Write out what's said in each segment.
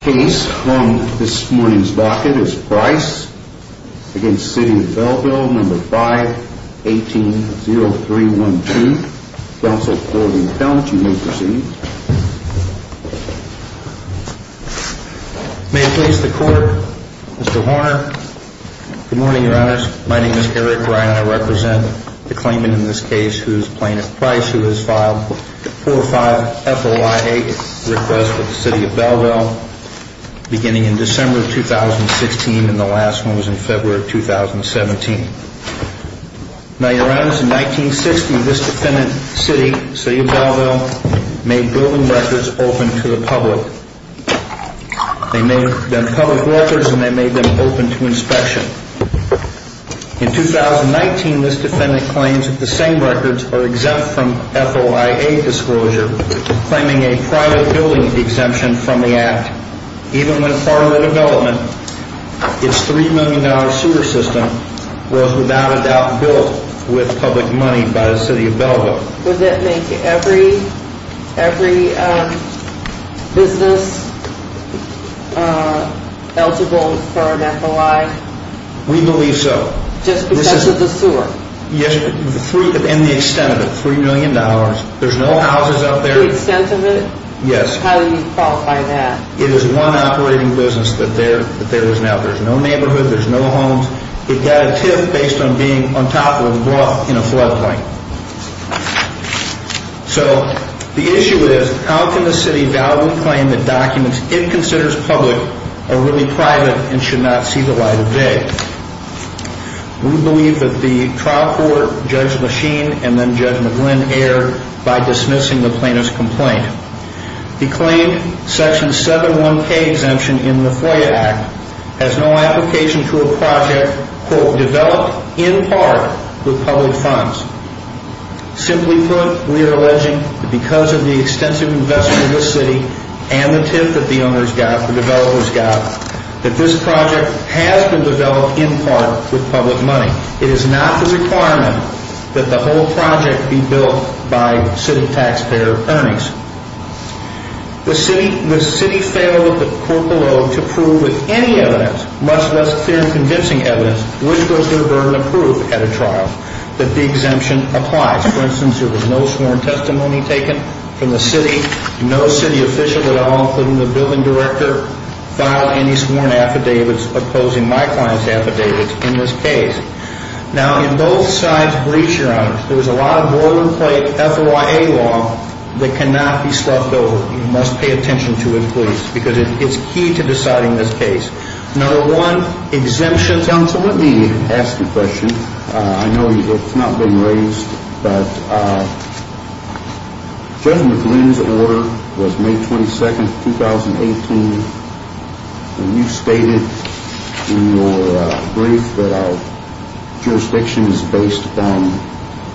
The case on this morning's docket is Price v. City of Belleville, No. 5-18-0312, Counsel, Court, and Count. You may proceed. May it please the Court, Mr. Horner. Good morning, Your Honors. My name is Eric Ryan. I represent the claimant in this case, who is Plaintiff Price, who has filed 4-5-F-O-I-8, a request for the City of Belleville, beginning in December of 2016, and the last one was in February of 2017. Now, Your Honors, in 1960, this defendant, City of Belleville, made building records open to the public. They made them public records, and they made them open to inspection. In 2019, this defendant claims that the same records are exempt from F-O-I-8 disclosure, claiming a private building exemption from the Act. Even when part of the development, its $3 million sewer system was without a doubt built with public money by the City of Belleville. Would that make every business eligible for an F-O-I? We believe so. Just because of the sewer? Yes, and the extent of it, $3 million. There's no houses out there. The extent of it? Yes. How do you qualify that? It is one operating business that there is now. There's no neighborhood. There's no homes. It got a TIF based on being on top of a bluff in a floodplain. So, the issue is, how can the City of Belleville claim that documents it considers public are really private and should not see the light of day? We believe that the trial court, Judge Machine and then Judge McGlynn erred by dismissing the plaintiff's complaint. He claimed Section 7-1-K exemption in the FOIA Act has no application to a project, quote, developed in part with public funds. Simply put, we are alleging that because of the extensive investment of the City and the TIF that the owners got, the developers got, that this project has been developed in part with public money. It is not the requirement that the whole project be built by City taxpayer earnings. The City failed the court below to prove with any evidence, much less clear and convincing evidence, which was their burden of proof at a trial, that the exemption applies. For instance, there was no sworn testimony taken from the City, no City official at all, including the building director, filed any sworn affidavits opposing my client's affidavits in this case. Now, in both sides' briefs, Your Honor, there was a lot of boilerplate FOIA law that cannot be sloughed over. You must pay attention to it, please, because it's key to deciding this case. Let me ask you a question. I know it's not been raised, but Judge McGlynn's order was May 22, 2018, and you stated in your brief that our jurisdiction is based on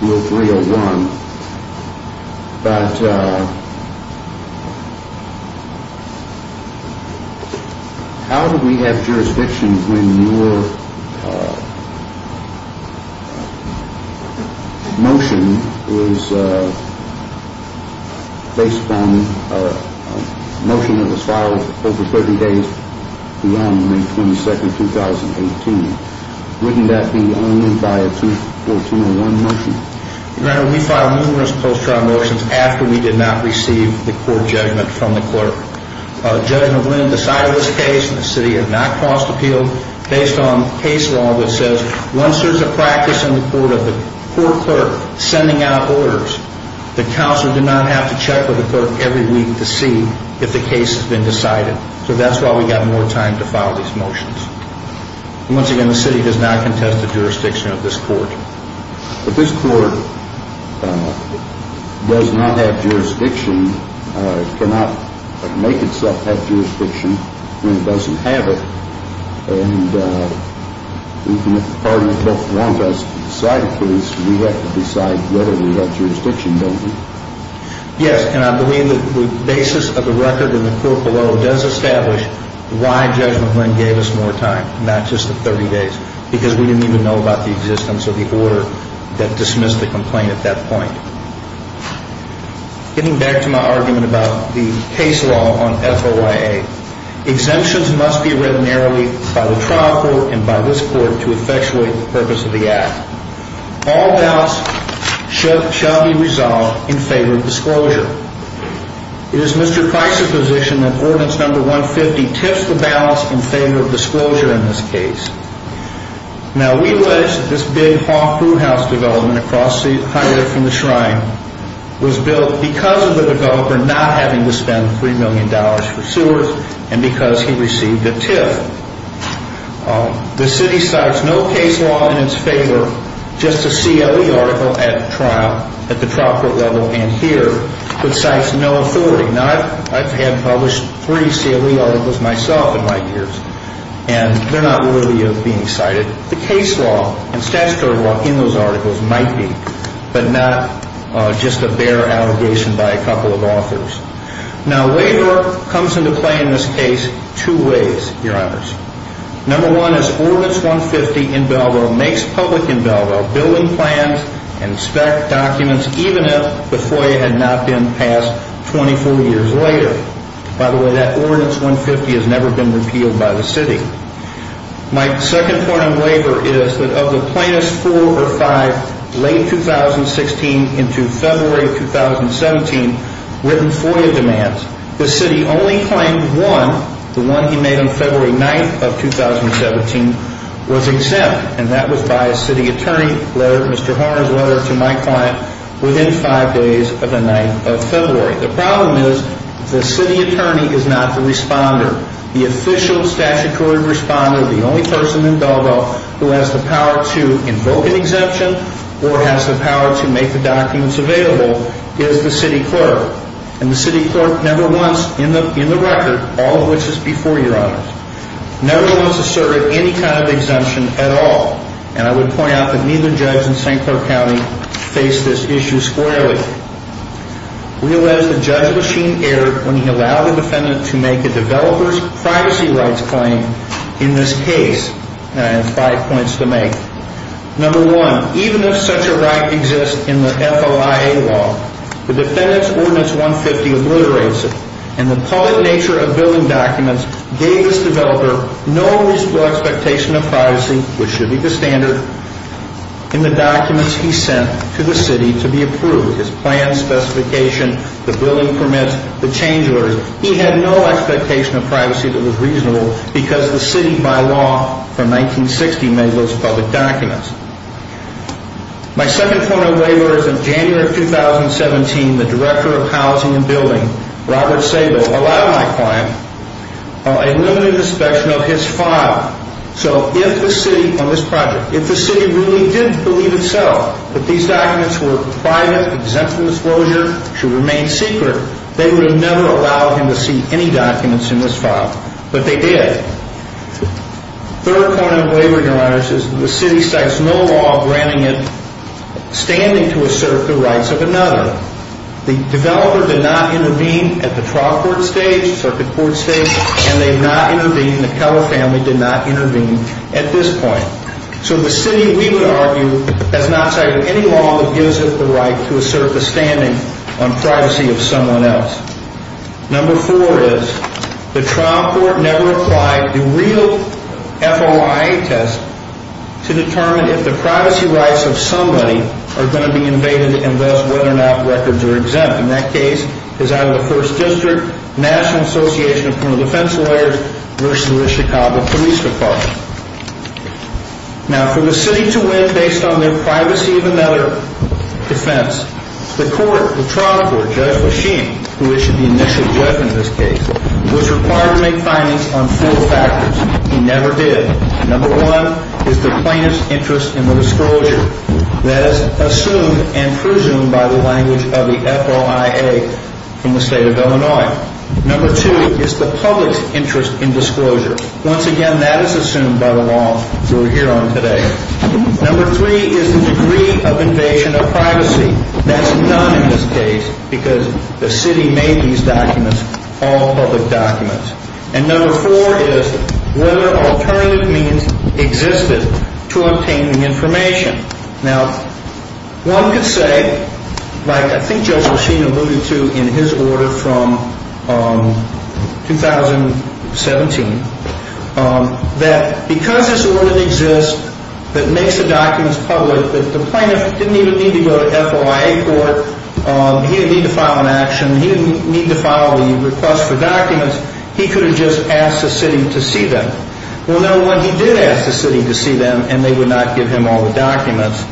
Rule 301. But how do we have jurisdiction when your motion is based on a motion that was filed over 30 days beyond May 22, 2018? Wouldn't that be only by a 2401 motion? Your Honor, we filed numerous post-trial motions after we did not receive the court judgment from the clerk. Judge McGlynn decided this case, and the City had not caused appeal, based on case law that says once there's a practice in the court of the court clerk sending out orders, the counselor did not have to check with the clerk every week to see if the case has been decided. So that's why we got more time to file these motions. Once again, the City does not contest the jurisdiction of this court. But this court does not have jurisdiction, cannot make itself have jurisdiction when it doesn't have it. And if the parties don't want us to decide a case, we have to decide whether we have jurisdiction, don't we? Yes, and I believe the basis of the record in the court below does establish why Judge McGlynn gave us more time, not just the 30 days, because we didn't even know about the existence of the order that dismissed the complaint at that point. Getting back to my argument about the case law on FOIA, exemptions must be written narrowly by the trial court and by this court to effectuate the purpose of the act. All ballots shall be resolved in favor of disclosure. It is Mr. Price's position that Ordinance No. 150 tiffs the ballots in favor of disclosure in this case. Now, we pledge that this big haul-through-house development across the highway from the Shrine was built because of the developer not having to spend $3 million for sewers and because he received a tiff. The city cites no case law in its favor, just a CLE article at the trial court level and here, but cites no authority. Now, I've had published three CLE articles myself in my years, and they're not worthy of being cited. The case law and statutory law in those articles might be, but not just a bare allegation by a couple of authors. Now, waiver comes into play in this case two ways, Your Honors. Number one is Ordinance No. 150 in Belleville makes public in Belleville building plans and spec documents, even if the FOIA had not been passed 24 years later. By the way, that Ordinance No. 150 has never been repealed by the city. My second point on waiver is that of the plaintiff's four or five late 2016 into February of 2017 written FOIA demands, the city only claimed one, the one he made on February 9th of 2017, was exempt. And that was by a city attorney, Mr. Horner's letter to my client within five days of the 9th of February. The problem is the city attorney is not the responder. The official statutory responder, the only person in Belleville who has the power to invoke an exemption or has the power to make the documents available is the city clerk. And the city clerk never once in the record, all of which is before Your Honors, never once asserted any kind of exemption at all. And I would point out that neither judge in St. Clair County faced this issue squarely. Realize the judge machine erred when he allowed the defendant to make a developer's privacy rights claim in this case. And I have five points to make. Number one, even if such a right exists in the FOIA law, the defendant's Ordinance 150 obliterates it. And the public nature of billing documents gave this developer no reasonable expectation of privacy, which should be the standard, in the documents he sent to the city to be approved. His plan, specification, the billing permits, the change orders. He had no expectation of privacy that was reasonable because the city, by law, from 1960, made those public documents. My second point of waiver is in January of 2017, the Director of Housing and Building, Robert Sabo, allowed my client a limited inspection of his file. So if the city, on this project, if the city really did believe itself that these documents were private, exempt from disclosure, should remain secret, they would have never allowed him to see any documents in this file. But they did. Third point of waiver, Your Honors, is the city sets no law granting it standing to assert the rights of another. The developer did not intervene at the trial court stage, circuit court stage, and they have not intervened. The Keller family did not intervene at this point. So the city, we would argue, has not cited any law that gives it the right to assert the standing on privacy of someone else. Number four is the trial court never applied the real FOIA test to determine if the privacy rights of somebody are going to be invaded and thus whether or not records are exempt. And that case is out of the First District National Association of Criminal Defense Lawyers versus the Chicago Police Department. Now, for the city to win based on their privacy of another defense, the court, the trial court, Judge Lechine, who is the initial judge in this case, was required to make findings on four factors. He never did. Number one is the plaintiff's interest in the disclosure. That is assumed and presumed by the language of the FOIA from the state of Illinois. Number two is the public's interest in disclosure. Once again, that is assumed by the law we're here on today. Number three is the degree of invasion of privacy. That's none in this case because the city made these documents all public documents. And number four is whether alternative means existed to obtain the information. Now, one could say, like I think Judge Lechine alluded to in his order from 2017, that because this order exists that makes the documents public, that the plaintiff didn't even need to go to FOIA court. He didn't need to file an action. He didn't need to file the request for documents. He could have just asked the city to see them. Well, number one, he did ask the city to see them, and they would not give him all the documents.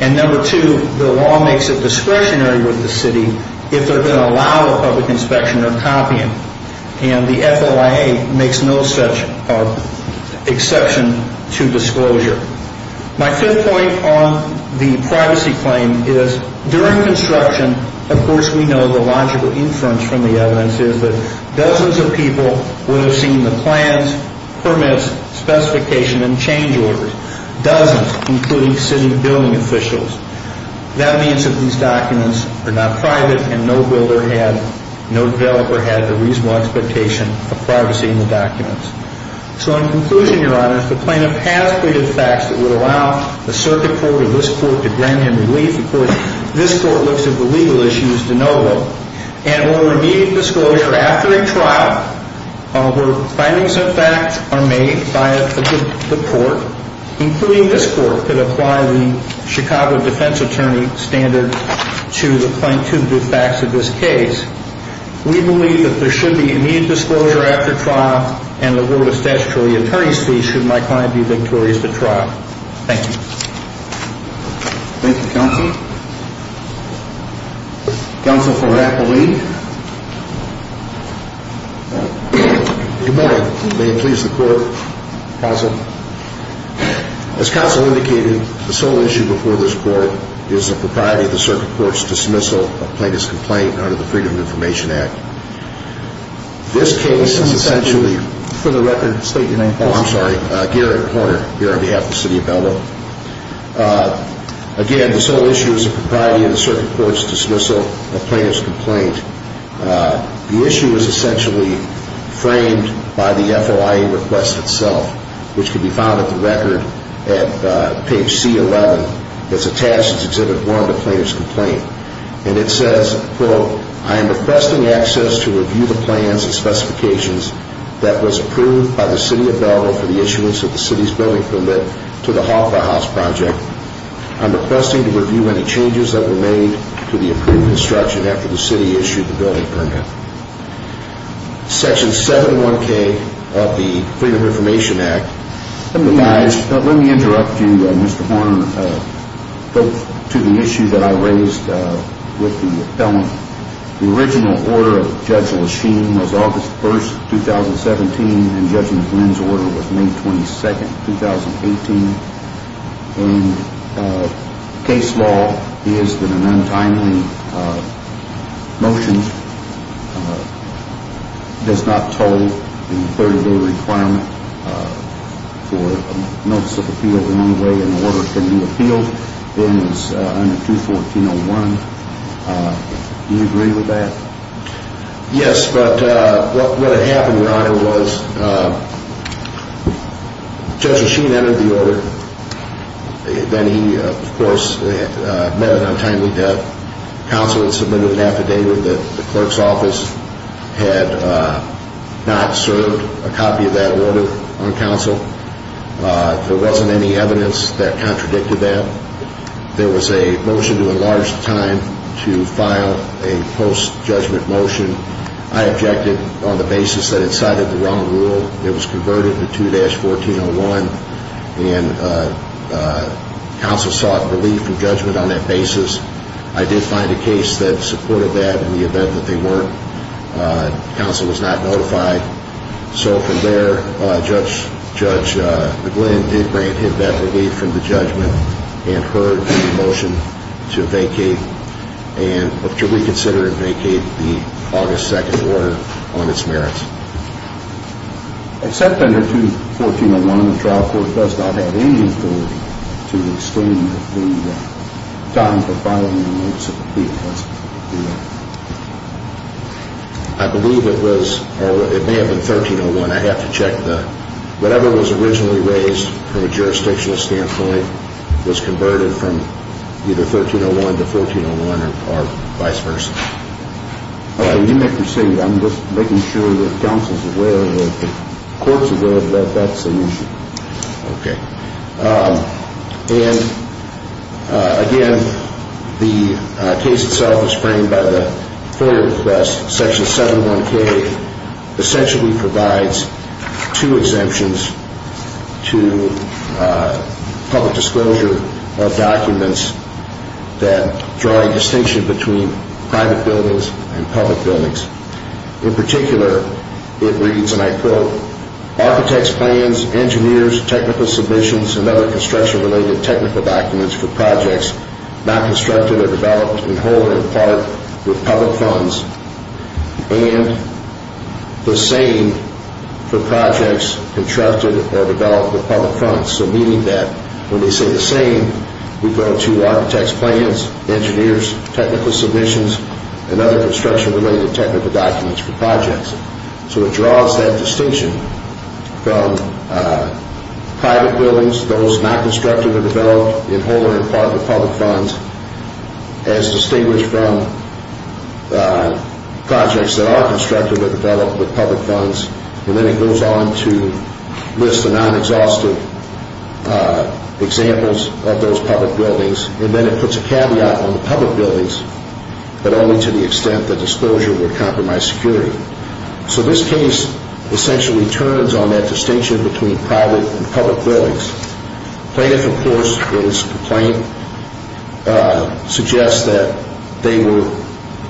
And number two, the law makes it discretionary with the city if they're going to allow a public inspection or copying. And the FOIA makes no such exception to disclosure. My fifth point on the privacy claim is during construction, of course, we know the logical inference from the evidence is that dozens of people would have seen the plans, permits, specification, and change orders. Dozens, including city building officials. That means that these documents are not private and no builder had, no developer had the reasonable expectation of privacy in the documents. So in conclusion, Your Honor, if the plaintiff has pleaded facts that would allow the circuit court or this court to grant him relief, of course, this court looks at the legal issues de novo. And over immediate disclosure after a trial, where findings and facts are made by the court, including this court, could apply the Chicago defense attorney standard to the facts of this case. We believe that there should be immediate disclosure after trial, and the word of statutory attorney's fee should my client be victorious at trial. Thank you. Thank you, counsel. Counsel for Rapplee. May it please the court. Counsel. As counsel indicated, the sole issue before this court is the propriety of the circuit court's dismissal of plaintiff's complaint under the Freedom of Information Act. This case is essentially. For the record, state your name, please. Oh, I'm sorry. Garrett Horner, here on behalf of the city of Bellevue. Again, the sole issue is the propriety of the circuit court's dismissal of plaintiff's complaint. The issue is essentially framed by the FOIA request itself, which can be found at the record at page C11 that's attached to Exhibit 1 of the plaintiff's complaint. And it says, quote, I am requesting access to review the plans and specifications that was approved by the city of Bellevue for the issuance of the city's building permit to the Hawkeye House project. I'm requesting to review any changes that were made to the approved construction after the city issued the building permit. Section 71K of the Freedom of Information Act provides. Let me interrupt you, Mr. Horner, to the issue that I raised with the appellant. The original order of Judge Lasheen was August 1st, 2017, and Judge McGlynn's order was May 22nd, 2018. And case law is that an untimely motion does not toll the 30-day requirement for a notice of appeal the only way an order can be appealed. Do you agree with that? Yes, but what had happened, Your Honor, was Judge Lasheen entered the order. Then he, of course, met an untimely death. Counsel had submitted an affidavit that the clerk's office had not served a copy of that order on counsel. There wasn't any evidence that contradicted that. There was a motion to enlarge time to file a post-judgment motion. I objected on the basis that it cited the wrong rule. It was converted to 2-1401, and counsel sought relief from judgment on that basis. I did find a case that supported that in the event that they weren't. Counsel was not notified. So from there, Judge McGlynn did grant him that relief from the judgment and heard the motion to vacate and to reconsider and vacate the August 2nd order on its merits. Except under 2-1401, the trial court does not have any authority to extend the time for filing a notice of appeal. I believe it was, or it may have been, 13-01. I have to check. Whatever was originally raised from a jurisdictional standpoint was converted from either 13-01 to 14-01 or vice versa. All right. You may proceed. I'm just making sure that counsel's aware, that the court's aware that that's an issue. Okay. And, again, the case itself is framed by the FOIA request. Section 71K essentially provides two exemptions to public disclosure of documents that draw a distinction between private buildings and public buildings. In particular, it reads, and I quote, Architects' plans, engineers, technical submissions, and other construction-related technical documents for projects not constructed or developed in whole or in part with public funds and the same for projects constructed or developed with public funds. So meaning that when they say the same, we go to architects' plans, engineers, technical submissions, and other construction-related technical documents for projects. So it draws that distinction from private buildings, those not constructed or developed in whole or in part with public funds, as distinguished from projects that are constructed or developed with public funds. And then it goes on to list the non-exhaustive examples of those public buildings. And then it puts a caveat on the public buildings, but only to the extent that disclosure would compromise security. So this case essentially turns on that distinction between private and public buildings. Plaintiff, of course, in his complaint, suggests that they were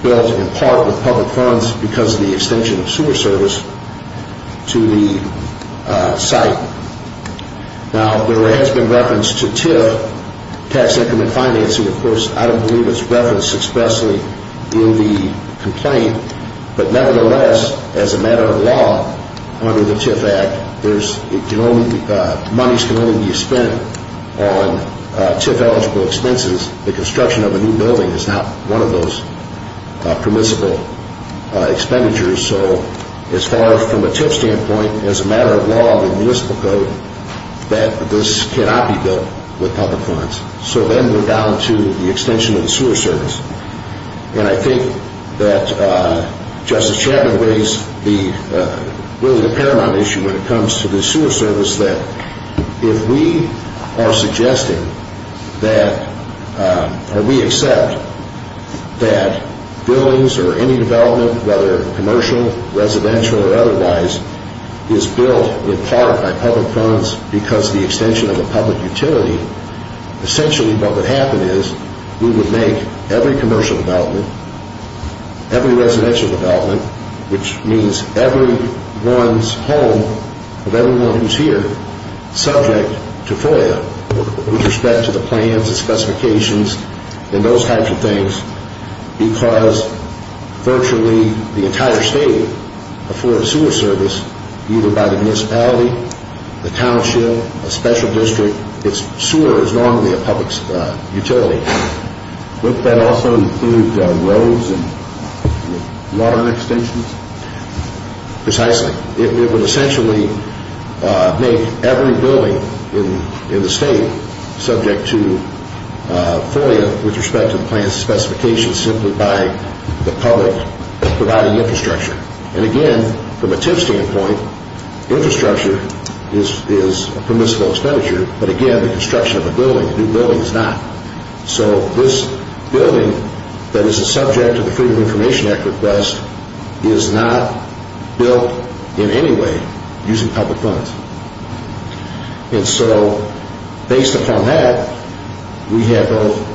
built in part with public funds because of the extension of sewer service to the site. Now, there has been reference to TIF, tax increment financing, of course. I don't believe it's referenced expressly in the complaint, but nevertheless, as a matter of law under the TIF Act, monies can only be spent on TIF-eligible expenses. The construction of a new building is not one of those permissible expenditures. So as far as from a TIF standpoint, as a matter of law in the municipal code, that this cannot be built with public funds. So then we're down to the extension of the sewer service. And I think that Justice Chapman raised really the paramount issue when it comes to the sewer service, that if we are suggesting that or we accept that buildings or any development, whether commercial, residential, or otherwise, is built in part by public funds because of the extension of a public utility, essentially what would happen is we would make every commercial development, every residential development, which means everyone's home, of everyone who's here, subject to FOIA with respect to the plans and specifications and those types of things because virtually the entire state affords sewer service either by the municipality, the township, a special district. Sewer is normally a public utility. Wouldn't that also include roads and water and extensions? Precisely. It would essentially make every building in the state subject to FOIA with respect to the plans and specifications simply by the public providing infrastructure. And again, from a TIF standpoint, infrastructure is a permissible expenditure. But again, the construction of a building, a new building, is not. So this building that is a subject of the Freedom of Information Act request is not built in any way using public funds. And so based upon that, we have both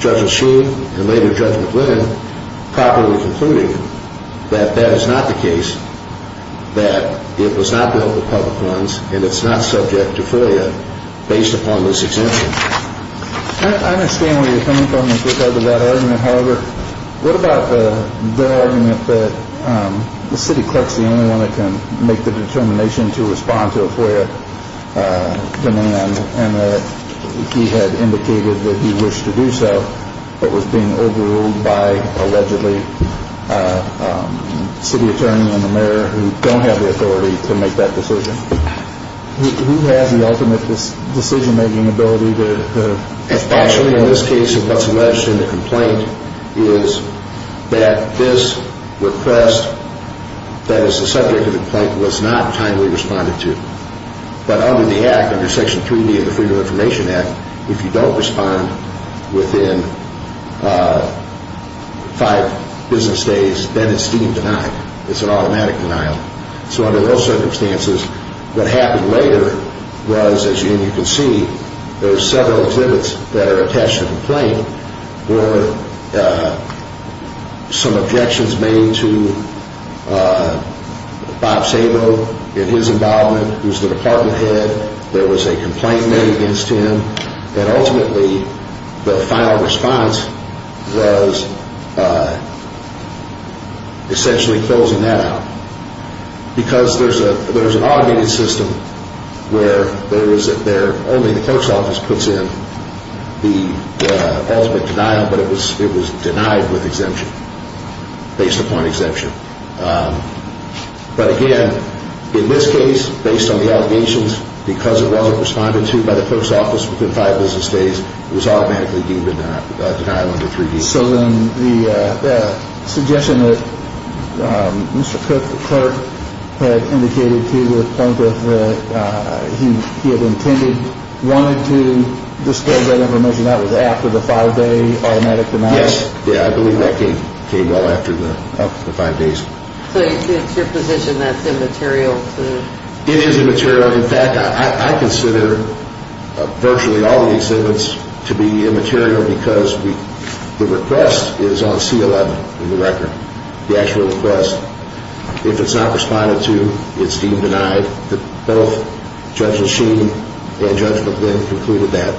Judge O'Shea and later Judge McGlynn properly concluding that that is not the case, that it was not built with public funds and it's not subject to FOIA based upon this exemption. I understand where you're coming from with regard to that argument. However, what about the argument that the city clerk's the only one that can make the determination to respond to a FOIA demand and that he had indicated that he wished to do so but was being overruled by allegedly a city attorney and the mayor who don't have the authority to make that decision? Who has the ultimate decision-making ability to respond? Actually, in this case, what's alleged in the complaint is that this request that is the subject of the complaint was not kindly responded to. But under the Act, under Section 3B of the Freedom of Information Act, if you don't respond within five business days, then it's deemed denied. It's an automatic denial. So under those circumstances, what happened later was, as you can see, there are several exhibits that are attached to the complaint where some objections made to Bob Sabo in his involvement, who's the department head. There was a complaint made against him, and ultimately the final response was essentially closing that out. Because there's an automated system where only the clerk's office puts in the ultimate denial, but it was denied with exemption based upon exemption. But again, in this case, based on the allegations, because it wasn't responded to by the clerk's office within five business days, it was automatically deemed a denial under 3B. So then the suggestion that Mr. Cook, the clerk, had indicated to the point that he had intended wanted to disclose that information, that was after the five-day automatic denial? Yes. Yeah, I believe that came after the five days. So it's your position that's immaterial? It is immaterial. In fact, I consider virtually all the exhibits to be immaterial because the request is on C11 in the record, the actual request. If it's not responded to, it's deemed denied. Both Judges Sheehan and Judge McGlynn concluded that,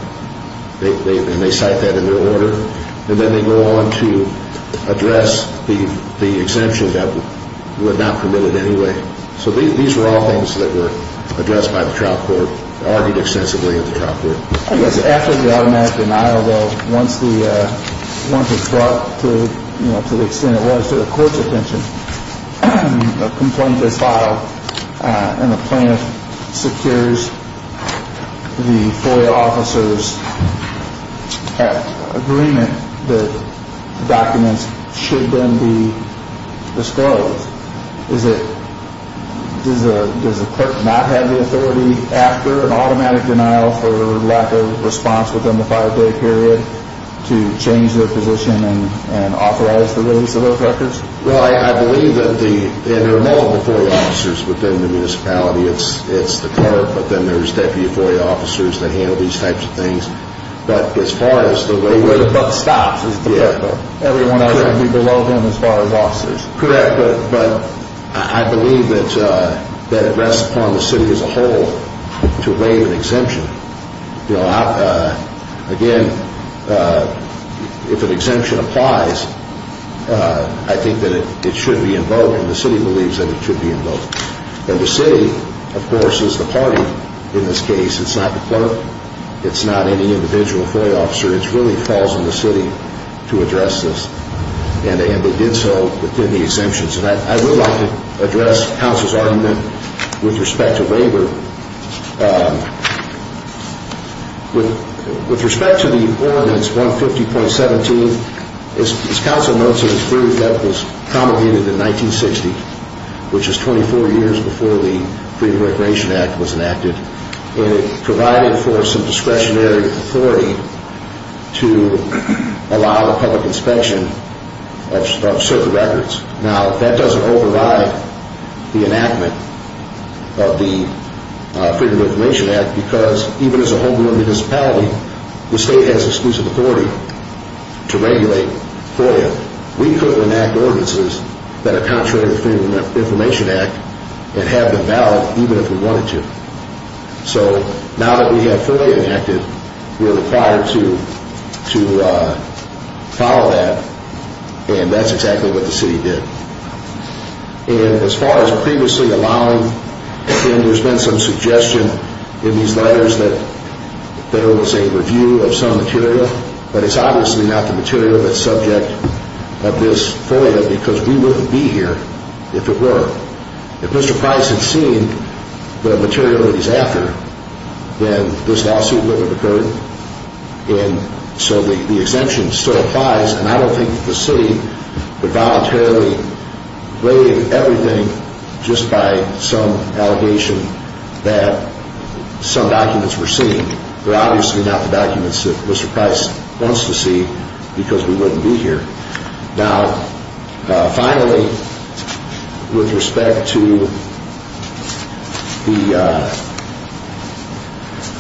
and they cite that in their order. And then they go on to address the exemption that was not permitted anyway. So these were all things that were addressed by the trial court, argued extensively at the trial court. I guess after the automatic denial, though, once it's brought to the extent it was to the court's attention, a complaint is filed and the plaintiff secures the FOIA officer's agreement that documents should then be disclosed. Does the clerk not have the authority after an automatic denial for lack of response within the five-day period to change their position and authorize the release of those records? Well, I believe that there are multiple FOIA officers within the municipality. It's the clerk, but then there's deputy FOIA officers that handle these types of things. But as far as the way we're... The way the buck stops is the clerk, though. Everyone else would be below them as far as officers. Correct, but I believe that it rests upon the city as a whole to waive an exemption. Again, if an exemption applies, I think that it should be in vogue, and the city believes that it should be in vogue. And the city, of course, is the party in this case. It's not the clerk. It's not any individual FOIA officer. It really falls on the city to address this. And they did so within the exemptions. And I would like to address counsel's argument with respect to waiver. With respect to the Ordinance 150.17, as counsel noted, it's proof that it was promulgated in 1960, which is 24 years before the Freedom of Recreation Act was enacted. And it provided for some discretionary authority to allow the public inspection of certain records. Now, that doesn't override the enactment of the Freedom of Information Act because even as a homegrown municipality, the state has exclusive authority to regulate FOIA. We couldn't enact ordinances that are contrary to the Freedom of Information Act and have been valid even if we wanted to. So now that we have FOIA enacted, we're required to follow that, and that's exactly what the city did. And as far as previously allowing, there's been some suggestion in these letters that there was a review of some material, but it's obviously not the material that's subject of this FOIA because we wouldn't be here if it were. If Mr. Price had seen the material that he's after, then this lawsuit wouldn't have occurred. And so the exemption still applies. And I don't think the city would voluntarily waive everything just by some allegation that some documents were seen. They're obviously not the documents that Mr. Price wants to see because we wouldn't be here. Now, finally, with respect to the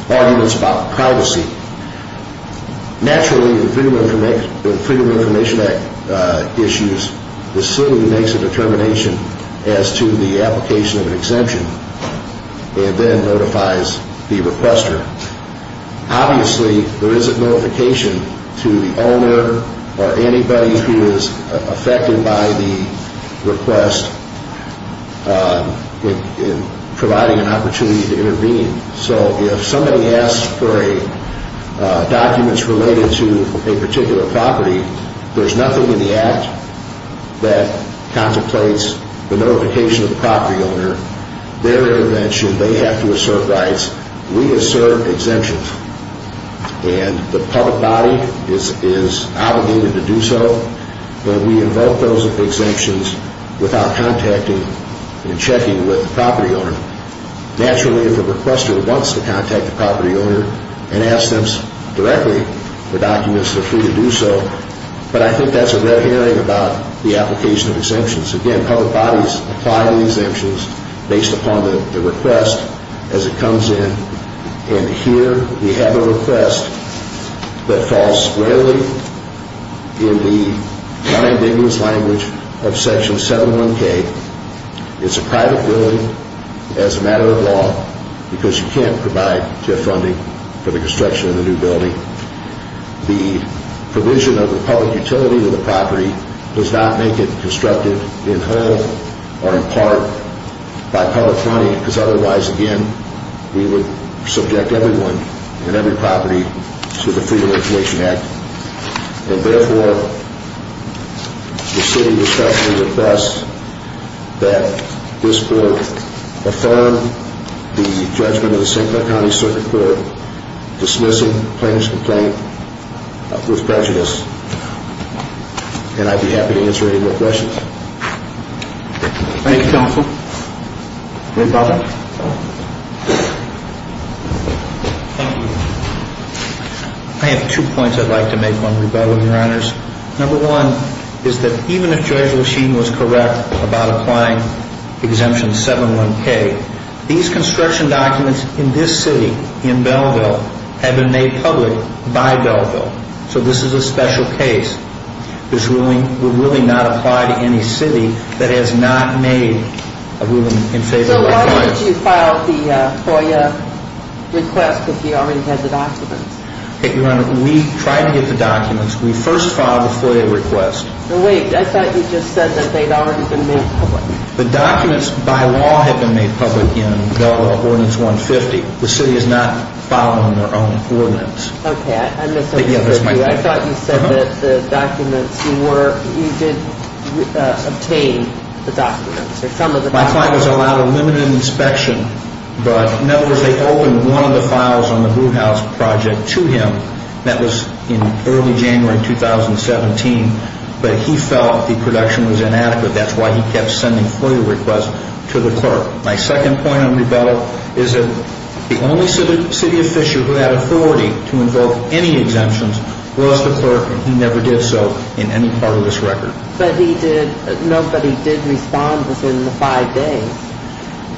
arguments about privacy, naturally the Freedom of Information Act issues the city makes a determination as to the application of an exemption and then notifies the requester. Obviously, there isn't notification to the owner or anybody who is affected by the request in providing an opportunity to intervene. So if somebody asks for documents related to a particular property, there's nothing in the act that contemplates the notification of the property owner. They're intervention, they have to assert rights. We assert exemptions, and the public body is obligated to do so, but we invoke those exemptions without contacting and checking with the property owner. Naturally, if the requester wants to contact the property owner and ask them directly for documents, they're free to do so, but I think that's a red herring about the application of exemptions. Again, public bodies apply the exemptions based upon the request as it comes in. And here we have a request that falls squarely in the non-indigenous language of Section 701K. It's a private building as a matter of law because you can't provide GIF funding for the construction of the new building. The provision of the public utility of the property does not make it constructive in whole or in part by public funding because otherwise, again, we would subject everyone and every property to the Freedom of Information Act. And therefore, the city respectfully requests that this board affirm the judgment of the St. Clair County Circuit Court dismissing plaintiff's complaint with prejudice, and I'd be happy to answer any more questions. Thank you, counsel. Any further? Thank you. I have two points I'd like to make on rebuttal, Your Honors. Number one is that even if Judge Lasheed was correct about applying Exemption 701K, these construction documents in this city, in Belleville, have been made public by Belleville, so this is a special case. This ruling would really not apply to any city that has not made a ruling in favor of our clients. So why would you file the FOIA request if you already had the documents? Your Honor, we tried to get the documents. We first filed the FOIA request. Wait, I thought you just said that they'd already been made public. The documents by law had been made public in Belleville Ordinance 150. The city is not following their own ordinance. Okay, I misunderstood you. I thought you said that the documents were, you did obtain the documents or some of the documents. My client was allowed a limited inspection, but in other words, they opened one of the files on the Blue House project to him. That was in early January 2017, but he felt the production was inadequate. That's why he kept sending FOIA requests to the clerk. My second point on rebuttal is that the only city of Fisher who had authority to invoke any exemptions was the clerk, and he never did so in any part of this record. But he did, no, but he did respond within the five days.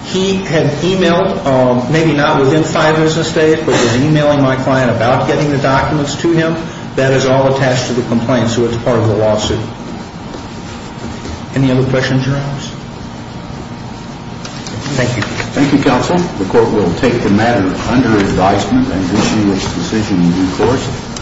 He had emailed, maybe not within five business days, but he was emailing my client about getting the documents to him. That is all attached to the complaint, so it's part of the lawsuit. Any other questions, Your Honor? Thank you. Thank you, counsel. The court will take the matter under advisement and issue its decision in due course.